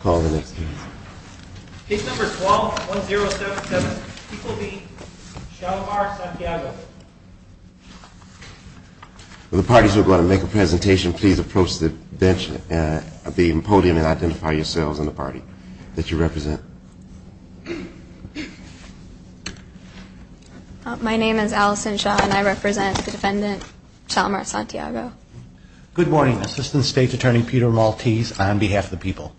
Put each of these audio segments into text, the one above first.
Call the next case. Case number 12-1077, people be, Chalamar, Santiago. The parties who are going to make a presentation, please approach the bench at the podium and identify yourselves and the party that you represent. My name is Allison Shaw and I represent the defendant, Chalamar, Santiago. Good morning, Assistant State's Attorney Peter Maltese on behalf of the people.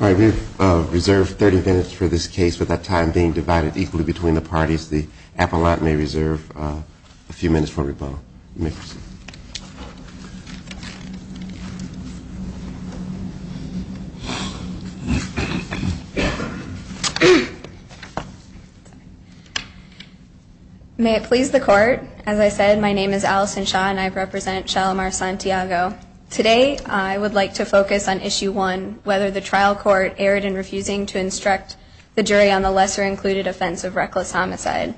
All right, we have reserved 30 minutes for this case. With that time being divided equally between the parties, the appellant may reserve a few minutes for rebuttal. You may proceed. May it please the court, as I said, my name is Allison Shaw and I represent Chalamar, Santiago. Today I would like to focus on issue one, whether the trial court erred in refusing to instruct the jury on the lesser included offense of reckless homicide.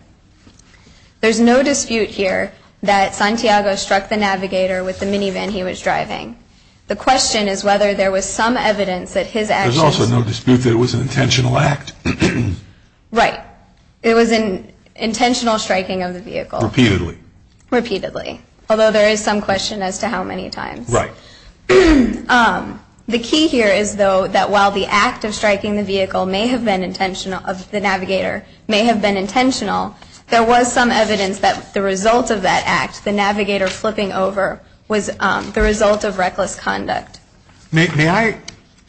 There's no dispute here that Santiago struck the navigator with the minivan he was driving. The question is whether there was some evidence that his actions... There's also no dispute that it was an intentional act. Right. It was an intentional striking of the vehicle. Repeatedly. Repeatedly. Although there is some question as to how many times. Right. The key here is, though, that while the act of striking the vehicle may have been intentional, of the navigator, may have been intentional, there was some evidence that the result of that act, the navigator flipping over, was the result of reckless conduct. May I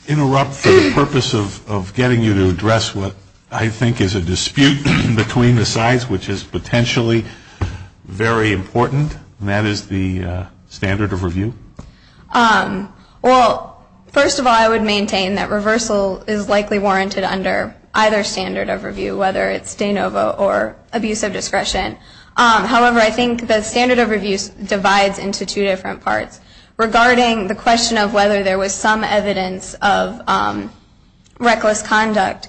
interrupt for the purpose of getting you to address what I think is a dispute between the sides, which is potentially very important? And that is the standard of review? Well, first of all, I would maintain that reversal is likely warranted under either standard of review, whether it's de novo or abuse of discretion. However, I think the standard of review divides into two different parts. Regarding the question of whether there was some evidence of reckless conduct,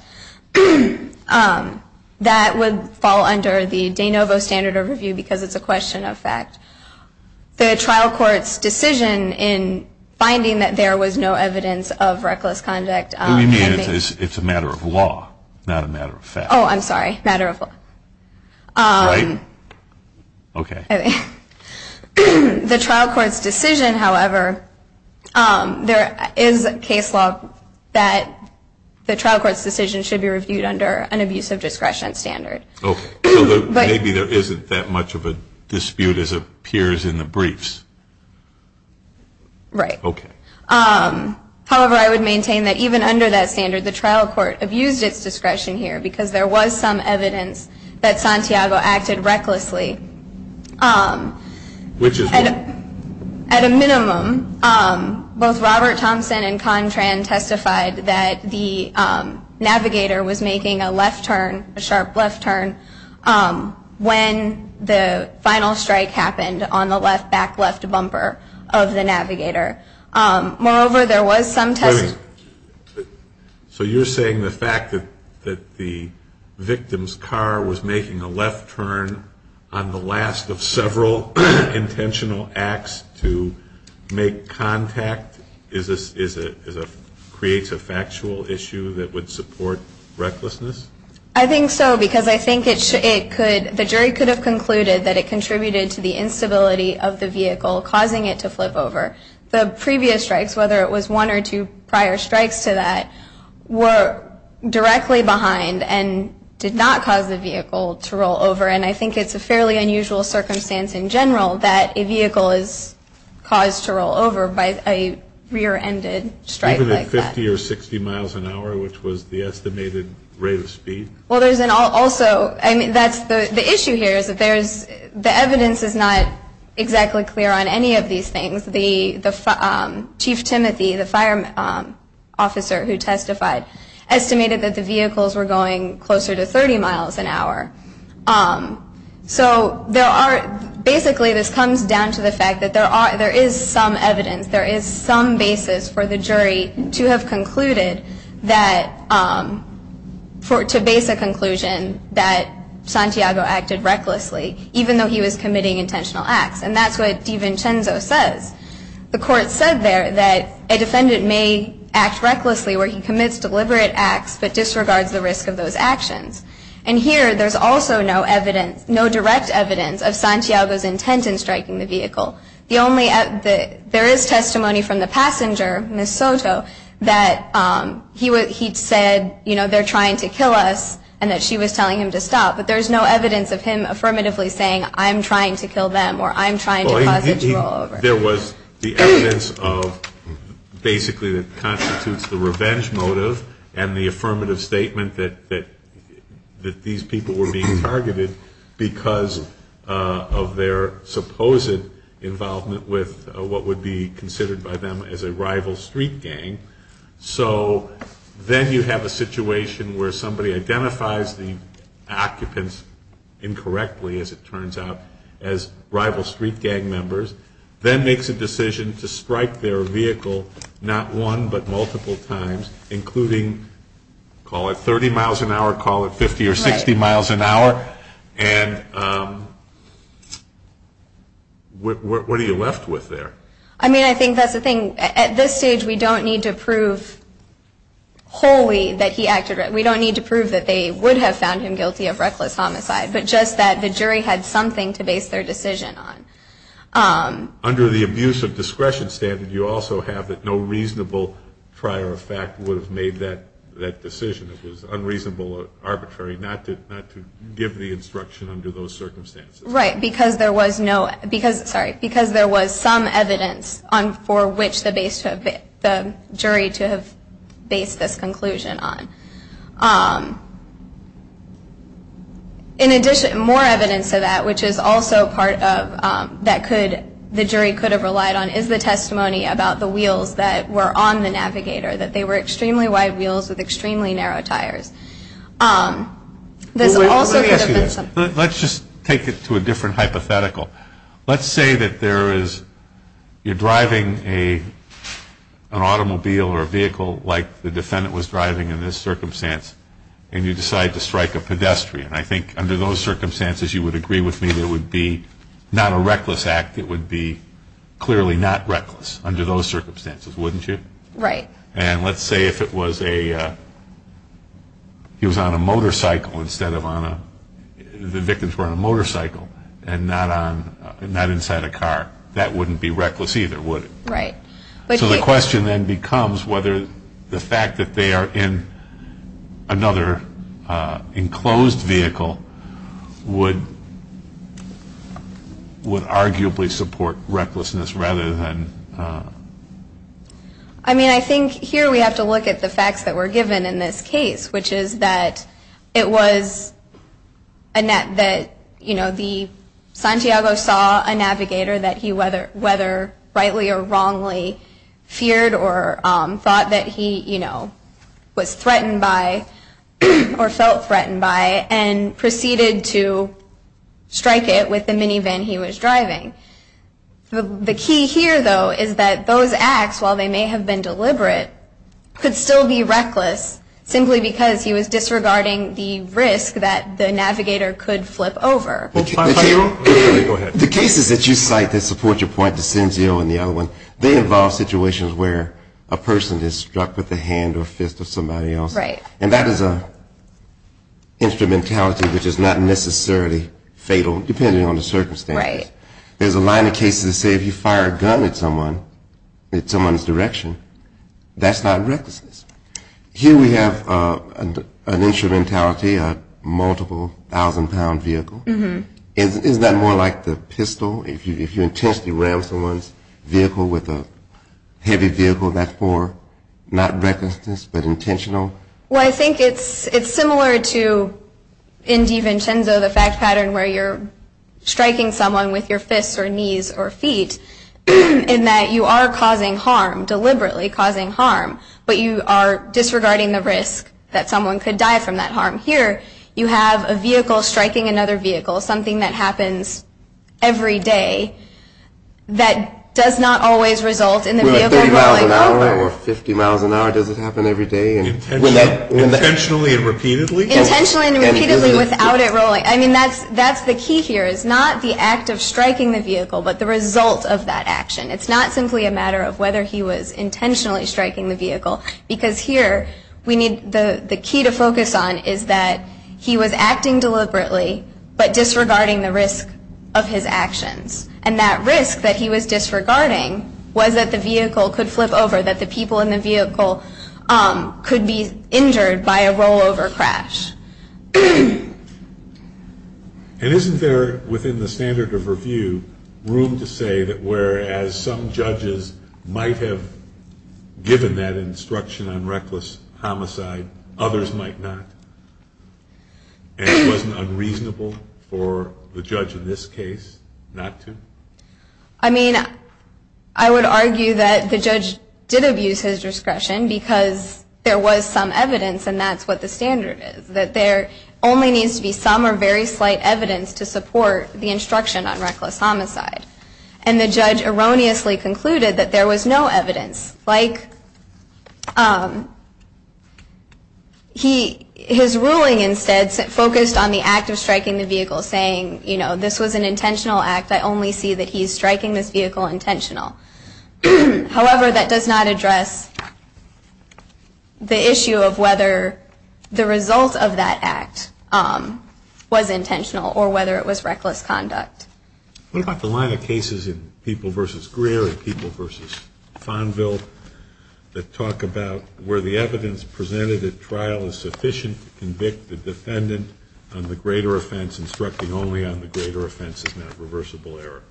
that would fall under the de novo standard of review because it's a question of fact. The trial court's decision in finding that there was no evidence of reckless conduct... What do you mean? It's a matter of law, not a matter of fact. Oh, I'm sorry. Matter of law. Right? Okay. The trial court's decision, however, there is a case law that the trial court's decision should be reviewed under an abuse of discretion standard. Okay. Maybe there isn't that much of a dispute as appears in the briefs. Right. Okay. However, I would maintain that even under that standard, the trial court abused its discretion here because there was some evidence that Santiago acted recklessly. Which is what? At a minimum, both Robert Thompson and Contran testified that the navigator was making a left turn, a sharp left turn, when the final strike happened on the back left bumper of the navigator. Moreover, there was some testimony... So you're saying the fact that the victim's car was making a left turn on the last of several intentional acts to make contact creates a factual issue that would support recklessness? I think so because I think the jury could have concluded that it contributed to the instability of the vehicle, causing it to flip over. The previous strikes, whether it was one or two prior strikes to that, were directly behind and did not cause the vehicle to roll over. And I think it's a fairly unusual circumstance in general that a vehicle is caused to roll over by a rear-ended strike like that. Even at 50 or 60 miles an hour, which was the estimated rate of speed? Well, there's an also... I mean, that's the issue here is that the evidence is not exactly clear on any of these things. The Chief Timothy, the fire officer who testified, estimated that the vehicles were going closer to 30 miles an hour. So there are... Basically, this comes down to the fact that there is some evidence, there is some basis for the jury to have concluded that... to base a conclusion that Santiago acted recklessly, even though he was committing intentional acts. And that's what DiVincenzo says. The court said there that a defendant may act recklessly where he commits deliberate acts, but disregards the risk of those actions. And here, there's also no evidence, no direct evidence of Santiago's intent in striking the vehicle. The only... There is testimony from the passenger, Ms. Soto, that he said, you know, they're trying to kill us and that she was telling him to stop. But there's no evidence of him affirmatively saying, I'm trying to kill them or I'm trying to cause a draw over. There was the evidence of basically that constitutes the revenge motive and the affirmative statement that these people were being targeted because of their supposed involvement with what would be considered by them as a rival street gang. So then you have a situation where somebody identifies the occupants incorrectly, as it turns out, as rival street gang members, then makes a decision to strike their vehicle not one but multiple times, including, call it 30 miles an hour, call it 50 or 60 miles an hour. And what are you left with there? I mean, I think that's the thing. At this stage, we don't need to prove wholly that he acted. We don't need to prove that they would have found him guilty of reckless homicide, but just that the jury had something to base their decision on. Under the abuse of discretion standard, you also have that no reasonable prior effect would have made that decision. It was unreasonable, arbitrary not to give the instruction under those circumstances. Right. Because there was some evidence for which the jury to have based this conclusion on. In addition, more evidence of that, which is also part of that the jury could have relied on, is the testimony about the wheels that were on the Navigator, that they were extremely wide wheels with extremely narrow tires. Let me ask you this. Let's just take it to a different hypothetical. Let's say that you're driving an automobile or a vehicle like the defendant was driving in this circumstance, and you decide to strike a pedestrian. I think under those circumstances, you would agree with me that it would be not a reckless act. It would be clearly not reckless under those circumstances, wouldn't you? Right. And let's say if it was a he was on a motorcycle instead of on a, the victims were on a motorcycle and not inside a car. That wouldn't be reckless either, would it? Right. So the question then becomes whether the fact that they are in another enclosed vehicle would arguably support recklessness rather than. I mean, I think here we have to look at the facts that were given in this case, which is that it was a net that, you know, the Santiago saw a Navigator that he whether rightly or wrongly feared or thought that he, you know, was threatened by or felt threatened by and proceeded to strike it with the minivan he was driving. The key here, though, is that those acts, while they may have been deliberate, could still be reckless simply because he was disregarding the risk that the Navigator could flip over. Go ahead. The cases that you cite that support your point, the Sinzio and the other one, they involve situations where a person is struck with the hand or fist of somebody else. Right. And that is an instrumentality which is not necessarily fatal depending on the circumstance. Right. There's a line of cases that say if you fire a gun at someone, at someone's direction, that's not recklessness. Here we have an instrumentality, a multiple thousand-pound vehicle. Isn't that more like the pistol? If you intentionally ram someone's vehicle with a heavy vehicle, that's more not recklessness but intentional? Well, I think it's similar to in DiVincenzo the fact pattern where you're striking someone with your fists or knees or feet in that you are causing harm, deliberately causing harm, but you are disregarding the risk that someone could die from that harm. Here you have a vehicle striking another vehicle, something that happens every day, that does not always result in the vehicle rolling over. Does it happen every day? Intentionally and repeatedly? Intentionally and repeatedly without it rolling. I mean, that's the key here is not the act of striking the vehicle but the result of that action. It's not simply a matter of whether he was intentionally striking the vehicle because here we need the key to focus on is that he was acting deliberately but disregarding the risk of his actions. And that risk that he was disregarding was that the vehicle could flip over, that the people in the vehicle could be injured by a rollover crash. And isn't there within the standard of review room to say that whereas some judges might have given that instruction on reckless homicide, others might not? And it wasn't unreasonable for the judge in this case not to? I mean, I would argue that the judge did abuse his discretion because there was some evidence and that's what the standard is, that there only needs to be some or very slight evidence to support the instruction on reckless homicide. And the judge erroneously concluded that there was no evidence. Like his ruling instead focused on the act of striking the vehicle saying, you know, this was an intentional act, I only see that he's striking this vehicle intentional. However, that does not address the issue of whether the result of that act was intentional or whether it was reckless conduct. What about the line of cases in People v. Greer and People v. Fonville that talk about where the evidence presented at trial is sufficient to convict the defendant on the greater offense instructing only on the greater offense is not reversible error?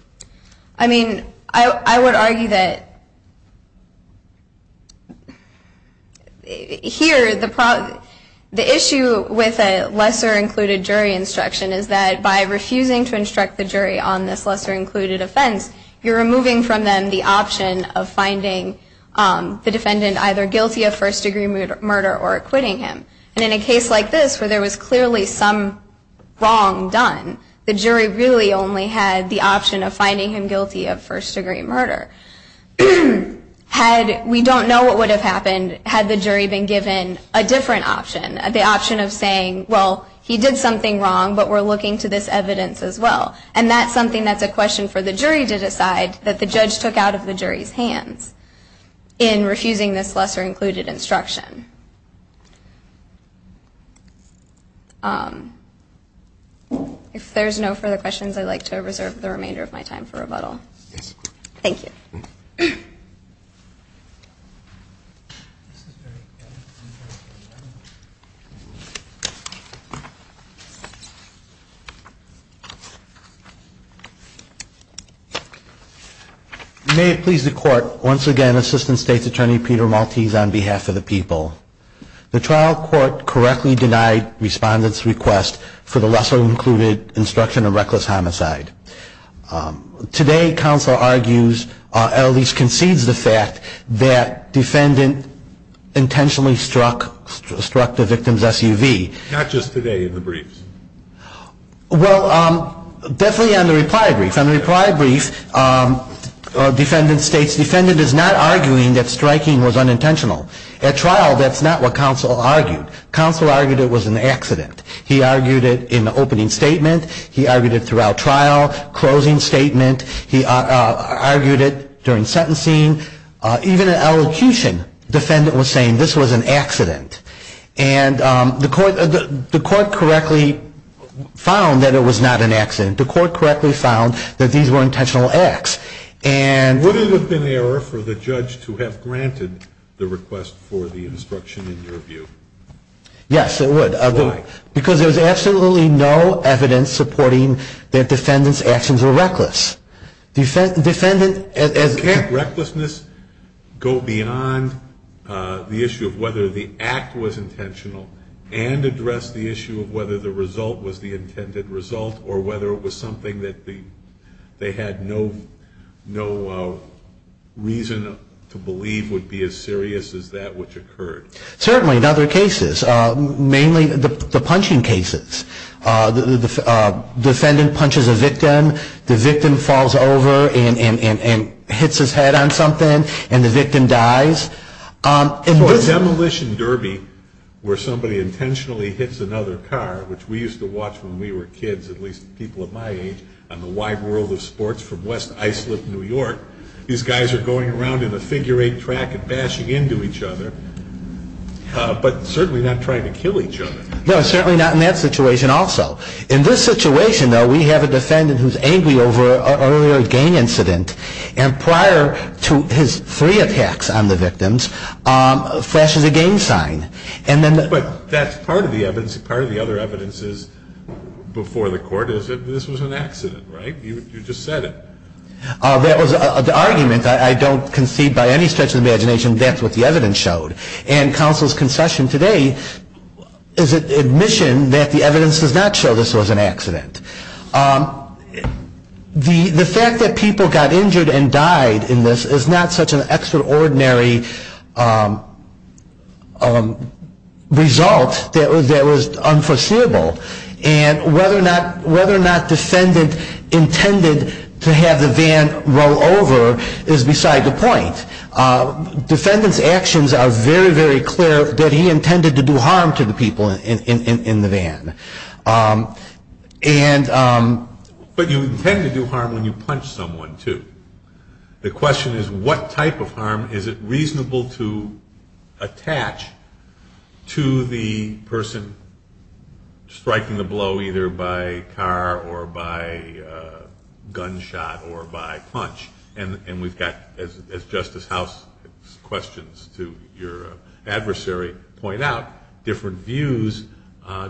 I mean, I would argue that here the issue with a lesser included jury instruction is that by refusing to instruct the jury on this lesser included offense, you're removing from them the option of finding the defendant either guilty of first degree murder or acquitting him. And in a case like this where there was clearly some wrong done, the jury really only had the option of finding him guilty of first degree murder. Had we don't know what would have happened had the jury been given a different option, the option of saying, well, he did something wrong, but we're looking to this evidence as well. And that's something that's a question for the jury to decide that the judge took out of the jury's hands in refusing this lesser included instruction. If there's no further questions, I'd like to reserve the remainder of my time for rebuttal. Thank you. May it please the Court, once again, Assistant State's Attorney Peter Maltese on behalf of the people. The trial court correctly denied respondents' request for the lesser included instruction of reckless homicide. Today, counsel argues or at least concedes the fact that defendant intentionally struck the victim's SUV. Not just today in the briefs. Well, definitely on the reply brief. On the reply brief, defendant states defendant is not arguing that striking was unintentional. At trial, that's not what counsel argued. Counsel argued it was an accident. He argued it in the opening statement. He argued it throughout trial, closing statement. He argued it during sentencing. Even in elocution, defendant was saying this was an accident. And the court correctly found that it was not an accident. The court correctly found that these were intentional acts. Would it have been error for the judge to have granted the request for the instruction in your view? Yes, it would. Why? Because there's absolutely no evidence supporting that defendant's actions were reckless. Can't recklessness go beyond the issue of whether the act was intentional and address the issue of whether the result was the intended result or whether it was something that they had no reason to believe would be as serious as that which occurred? Certainly in other cases. Mainly the punching cases. The defendant punches a victim. The victim falls over and hits his head on something, and the victim dies. In a demolition derby where somebody intentionally hits another car, which we used to watch when we were kids, at least people of my age, on the Wide World of Sports from West Islip, New York, these guys are going around in a figure-eight track and bashing into each other, but certainly not trying to kill each other. No, certainly not in that situation also. In this situation, though, we have a defendant who's angry over an earlier gang incident and prior to his three attacks on the victims flashes a gang sign. But that's part of the evidence. Part of the other evidence is before the court is that this was an accident, right? You just said it. That was an argument. I don't concede by any stretch of the imagination that's what the evidence showed. And counsel's concession today is an admission that the evidence does not show this was an accident. The fact that people got injured and died in this is not such an extraordinary result that was unforeseeable. And whether or not defendant intended to have the van roll over is beside the point. Defendant's actions are very, very clear that he intended to do harm to the people in the van. But you intend to do harm when you punch someone, too. The question is what type of harm is it reasonable to attach to the person striking the blow, either by car or by gunshot or by punch. And we've got, as Justice House questions to your adversary point out, different views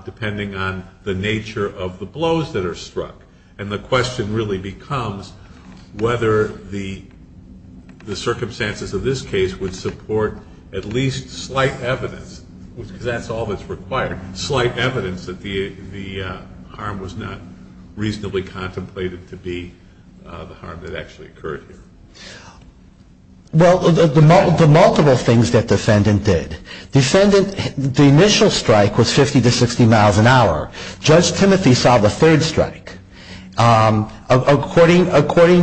depending on the nature of the blows that are struck. And the question really becomes whether the circumstances of this case would support at least slight evidence, because that's all that's required, that the harm was not reasonably contemplated to be the harm that actually occurred here. Well, the multiple things that defendant did. Defendant, the initial strike was 50 to 60 miles an hour. Judge Timothy saw the third strike. According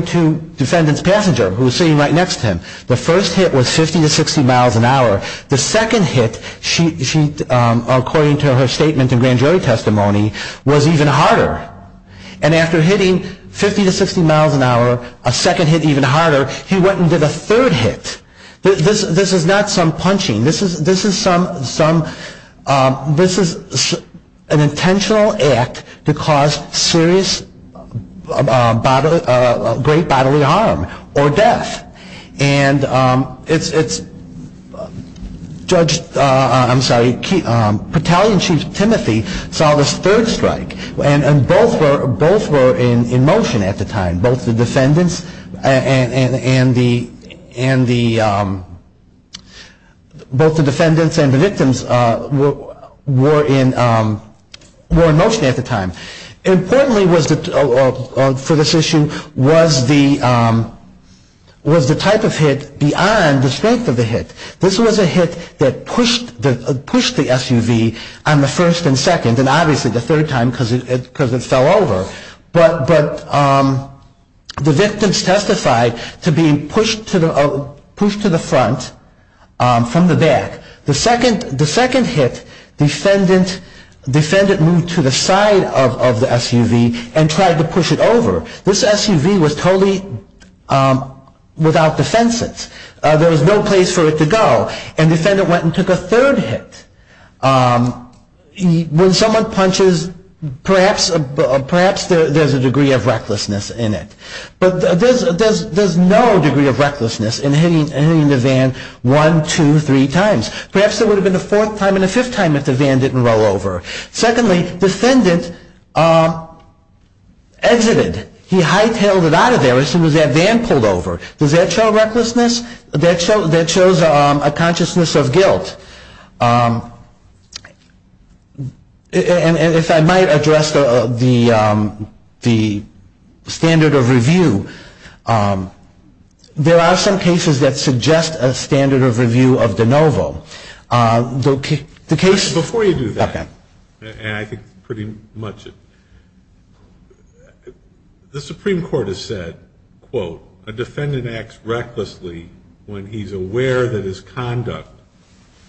to defendant's passenger who was sitting right next to him, the first hit was 50 to 60 miles an hour. The second hit, according to her statement in grand jury testimony, was even harder. And after hitting 50 to 60 miles an hour, a second hit even harder, he went and did a third hit. This is not some punching. This is an intentional act to cause serious great bodily harm or death. And it's Judge, I'm sorry, Battalion Chief Timothy saw this third strike. And both were in motion at the time. Both the defendants and the victims were in motion at the time. Importantly for this issue was the type of hit beyond the strength of the hit. This was a hit that pushed the SUV on the first and second, and obviously the third time because it fell over. But the victims testified to being pushed to the front from the back. The second hit, defendant moved to the side of the SUV and tried to push it over. This SUV was totally without defenses. There was no place for it to go. And defendant went and took a third hit. When someone punches, perhaps there's a degree of recklessness in it. But there's no degree of recklessness in hitting the van one, two, three times. Perhaps there would have been a fourth time and a fifth time if the van didn't roll over. Secondly, defendant exited. He hightailed it out of there as soon as that van pulled over. Does that show recklessness? That shows a consciousness of guilt. And if I might address the standard of review. There are some cases that suggest a standard of review of de novo. Before you do that, and I think pretty much it, the Supreme Court has said, quote, a defendant acts recklessly when he's aware that his conduct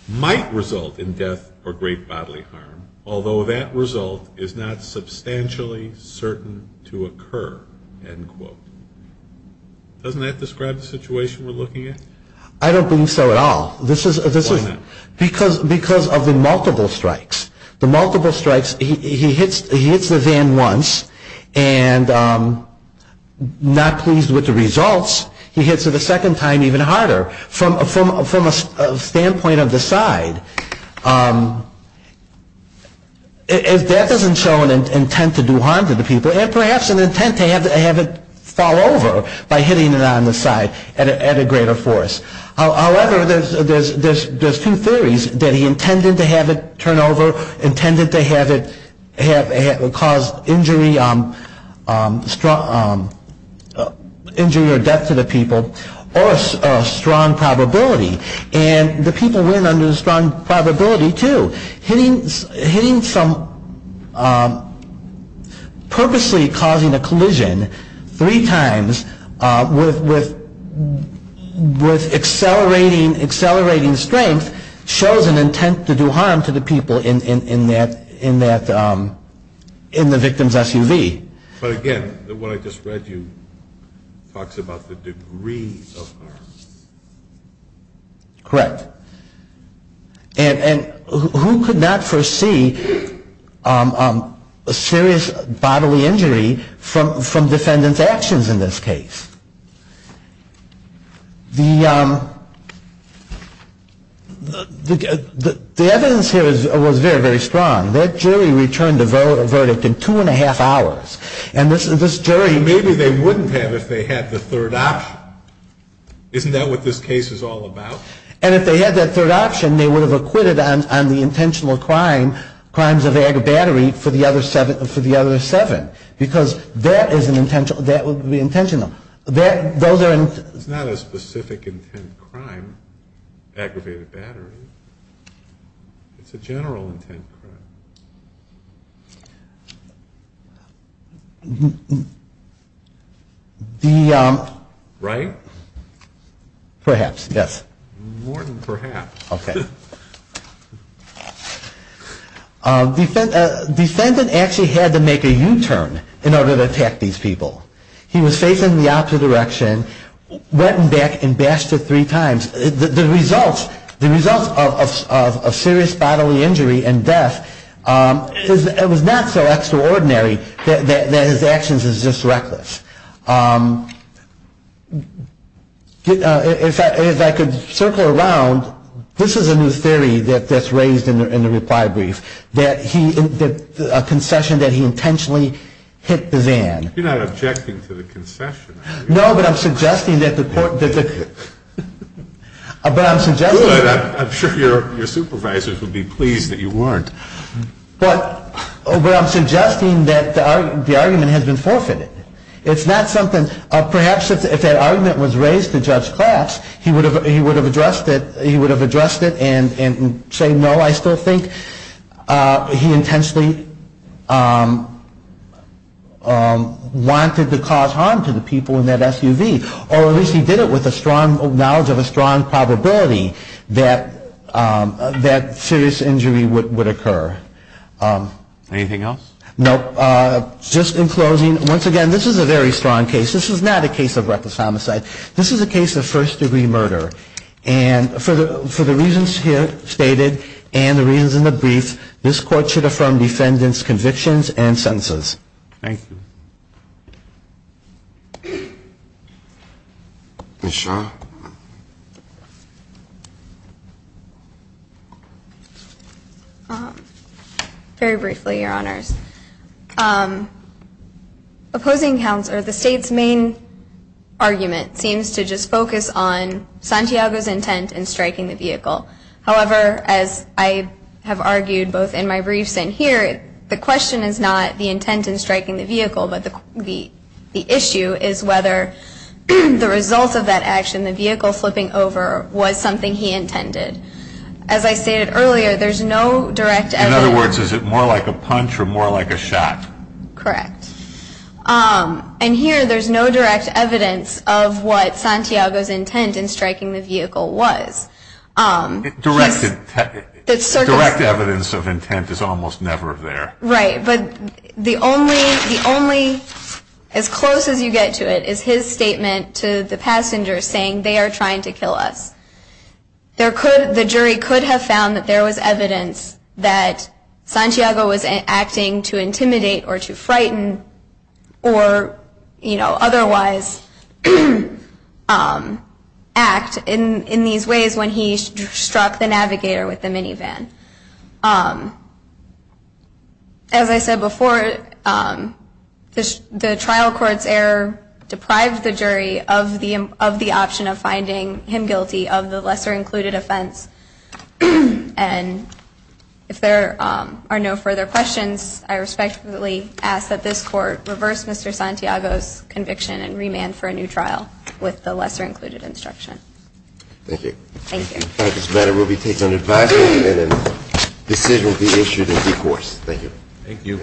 might result in death or great bodily harm, although that result is not substantially certain to occur, end quote. Doesn't that describe the situation we're looking at? I don't believe so at all. Why not? Because of the multiple strikes. The multiple strikes, he hits the van once and not pleased with the results, he hits it a second time even harder from a standpoint of the side. That doesn't show an intent to do harm to the people, and perhaps an intent to have it fall over by hitting it on the side at a greater force. However, there's two theories, that he intended to have it turn over, intended to have it cause injury or death to the people, or a strong probability. And the people win under the strong probability too. Hitting from purposely causing a collision three times with accelerating strength shows an intent to do harm to the people in the victim's SUV. But again, what I just read you talks about the degree of harm. Correct. And who could not foresee a serious bodily injury from defendant's actions in this case? The evidence here was very, very strong. That jury returned the verdict in two and a half hours. And this jury — Maybe they wouldn't have if they had the third option. Isn't that what this case is all about? And if they had that third option, they would have acquitted on the intentional crimes of aggravated battery for the other seven. Because that is an intentional — that would be intentional. That — those are — It's not a specific intent crime, aggravated battery. It's a general intent crime. The — Right? Right. Perhaps, yes. More than perhaps. Okay. Defendant actually had to make a U-turn in order to attack these people. He was facing the opposite direction, went back and bashed her three times. The results of a serious bodily injury and death was not so extraordinary that his actions is just reckless. If I could circle around, this is a new theory that's raised in the reply brief, that he — a concession that he intentionally hit the van. You're not objecting to the concession, are you? No, but I'm suggesting that the court — But I'm suggesting — Good. I'm sure your supervisors would be pleased that you weren't. But I'm suggesting that the argument has been forfeited. It's not something — perhaps if that argument was raised to Judge Klatch, he would have addressed it and say, no, I still think he intensely wanted to cause harm to the people in that SUV, or at least he did it with a strong knowledge of a strong probability that serious injury would occur. Anything else? Nope. Just in closing, once again, this is a very strong case. This is not a case of reckless homicide. This is a case of first-degree murder. And for the reasons here stated and the reasons in the brief, this court should affirm defendant's convictions and sentences. Thank you. Ms. Shah? Very briefly, Your Honors. Opposing counsel, the State's main argument seems to just focus on Santiago's intent in striking the vehicle. However, as I have argued both in my briefs and here, the question is not the intent in striking the vehicle, but the issue is whether the result of that action, the vehicle flipping over, was something he intended. As I stated earlier, there's no direct evidence — In other words, is it more like a punch or more like a shot? Correct. And here, there's no direct evidence of what Santiago's intent in striking the vehicle was. Direct evidence of intent is almost never there. Right. But the only — as close as you get to it is his statement to the passengers saying, they are trying to kill us. The jury could have found that there was evidence that Santiago was acting to intimidate or to frighten or, you know, otherwise act in these ways when he struck the navigator with the minivan. As I said before, the trial court's error deprived the jury of the option of finding him guilty of the lesser included offense. And if there are no further questions, I respectfully ask that this court reverse Mr. Santiago's conviction and remand for a new trial with the lesser included instruction. Thank you. Thank you. This matter will be taken to the advisory committee and a decision will be issued in due course. Thank you. Thank you.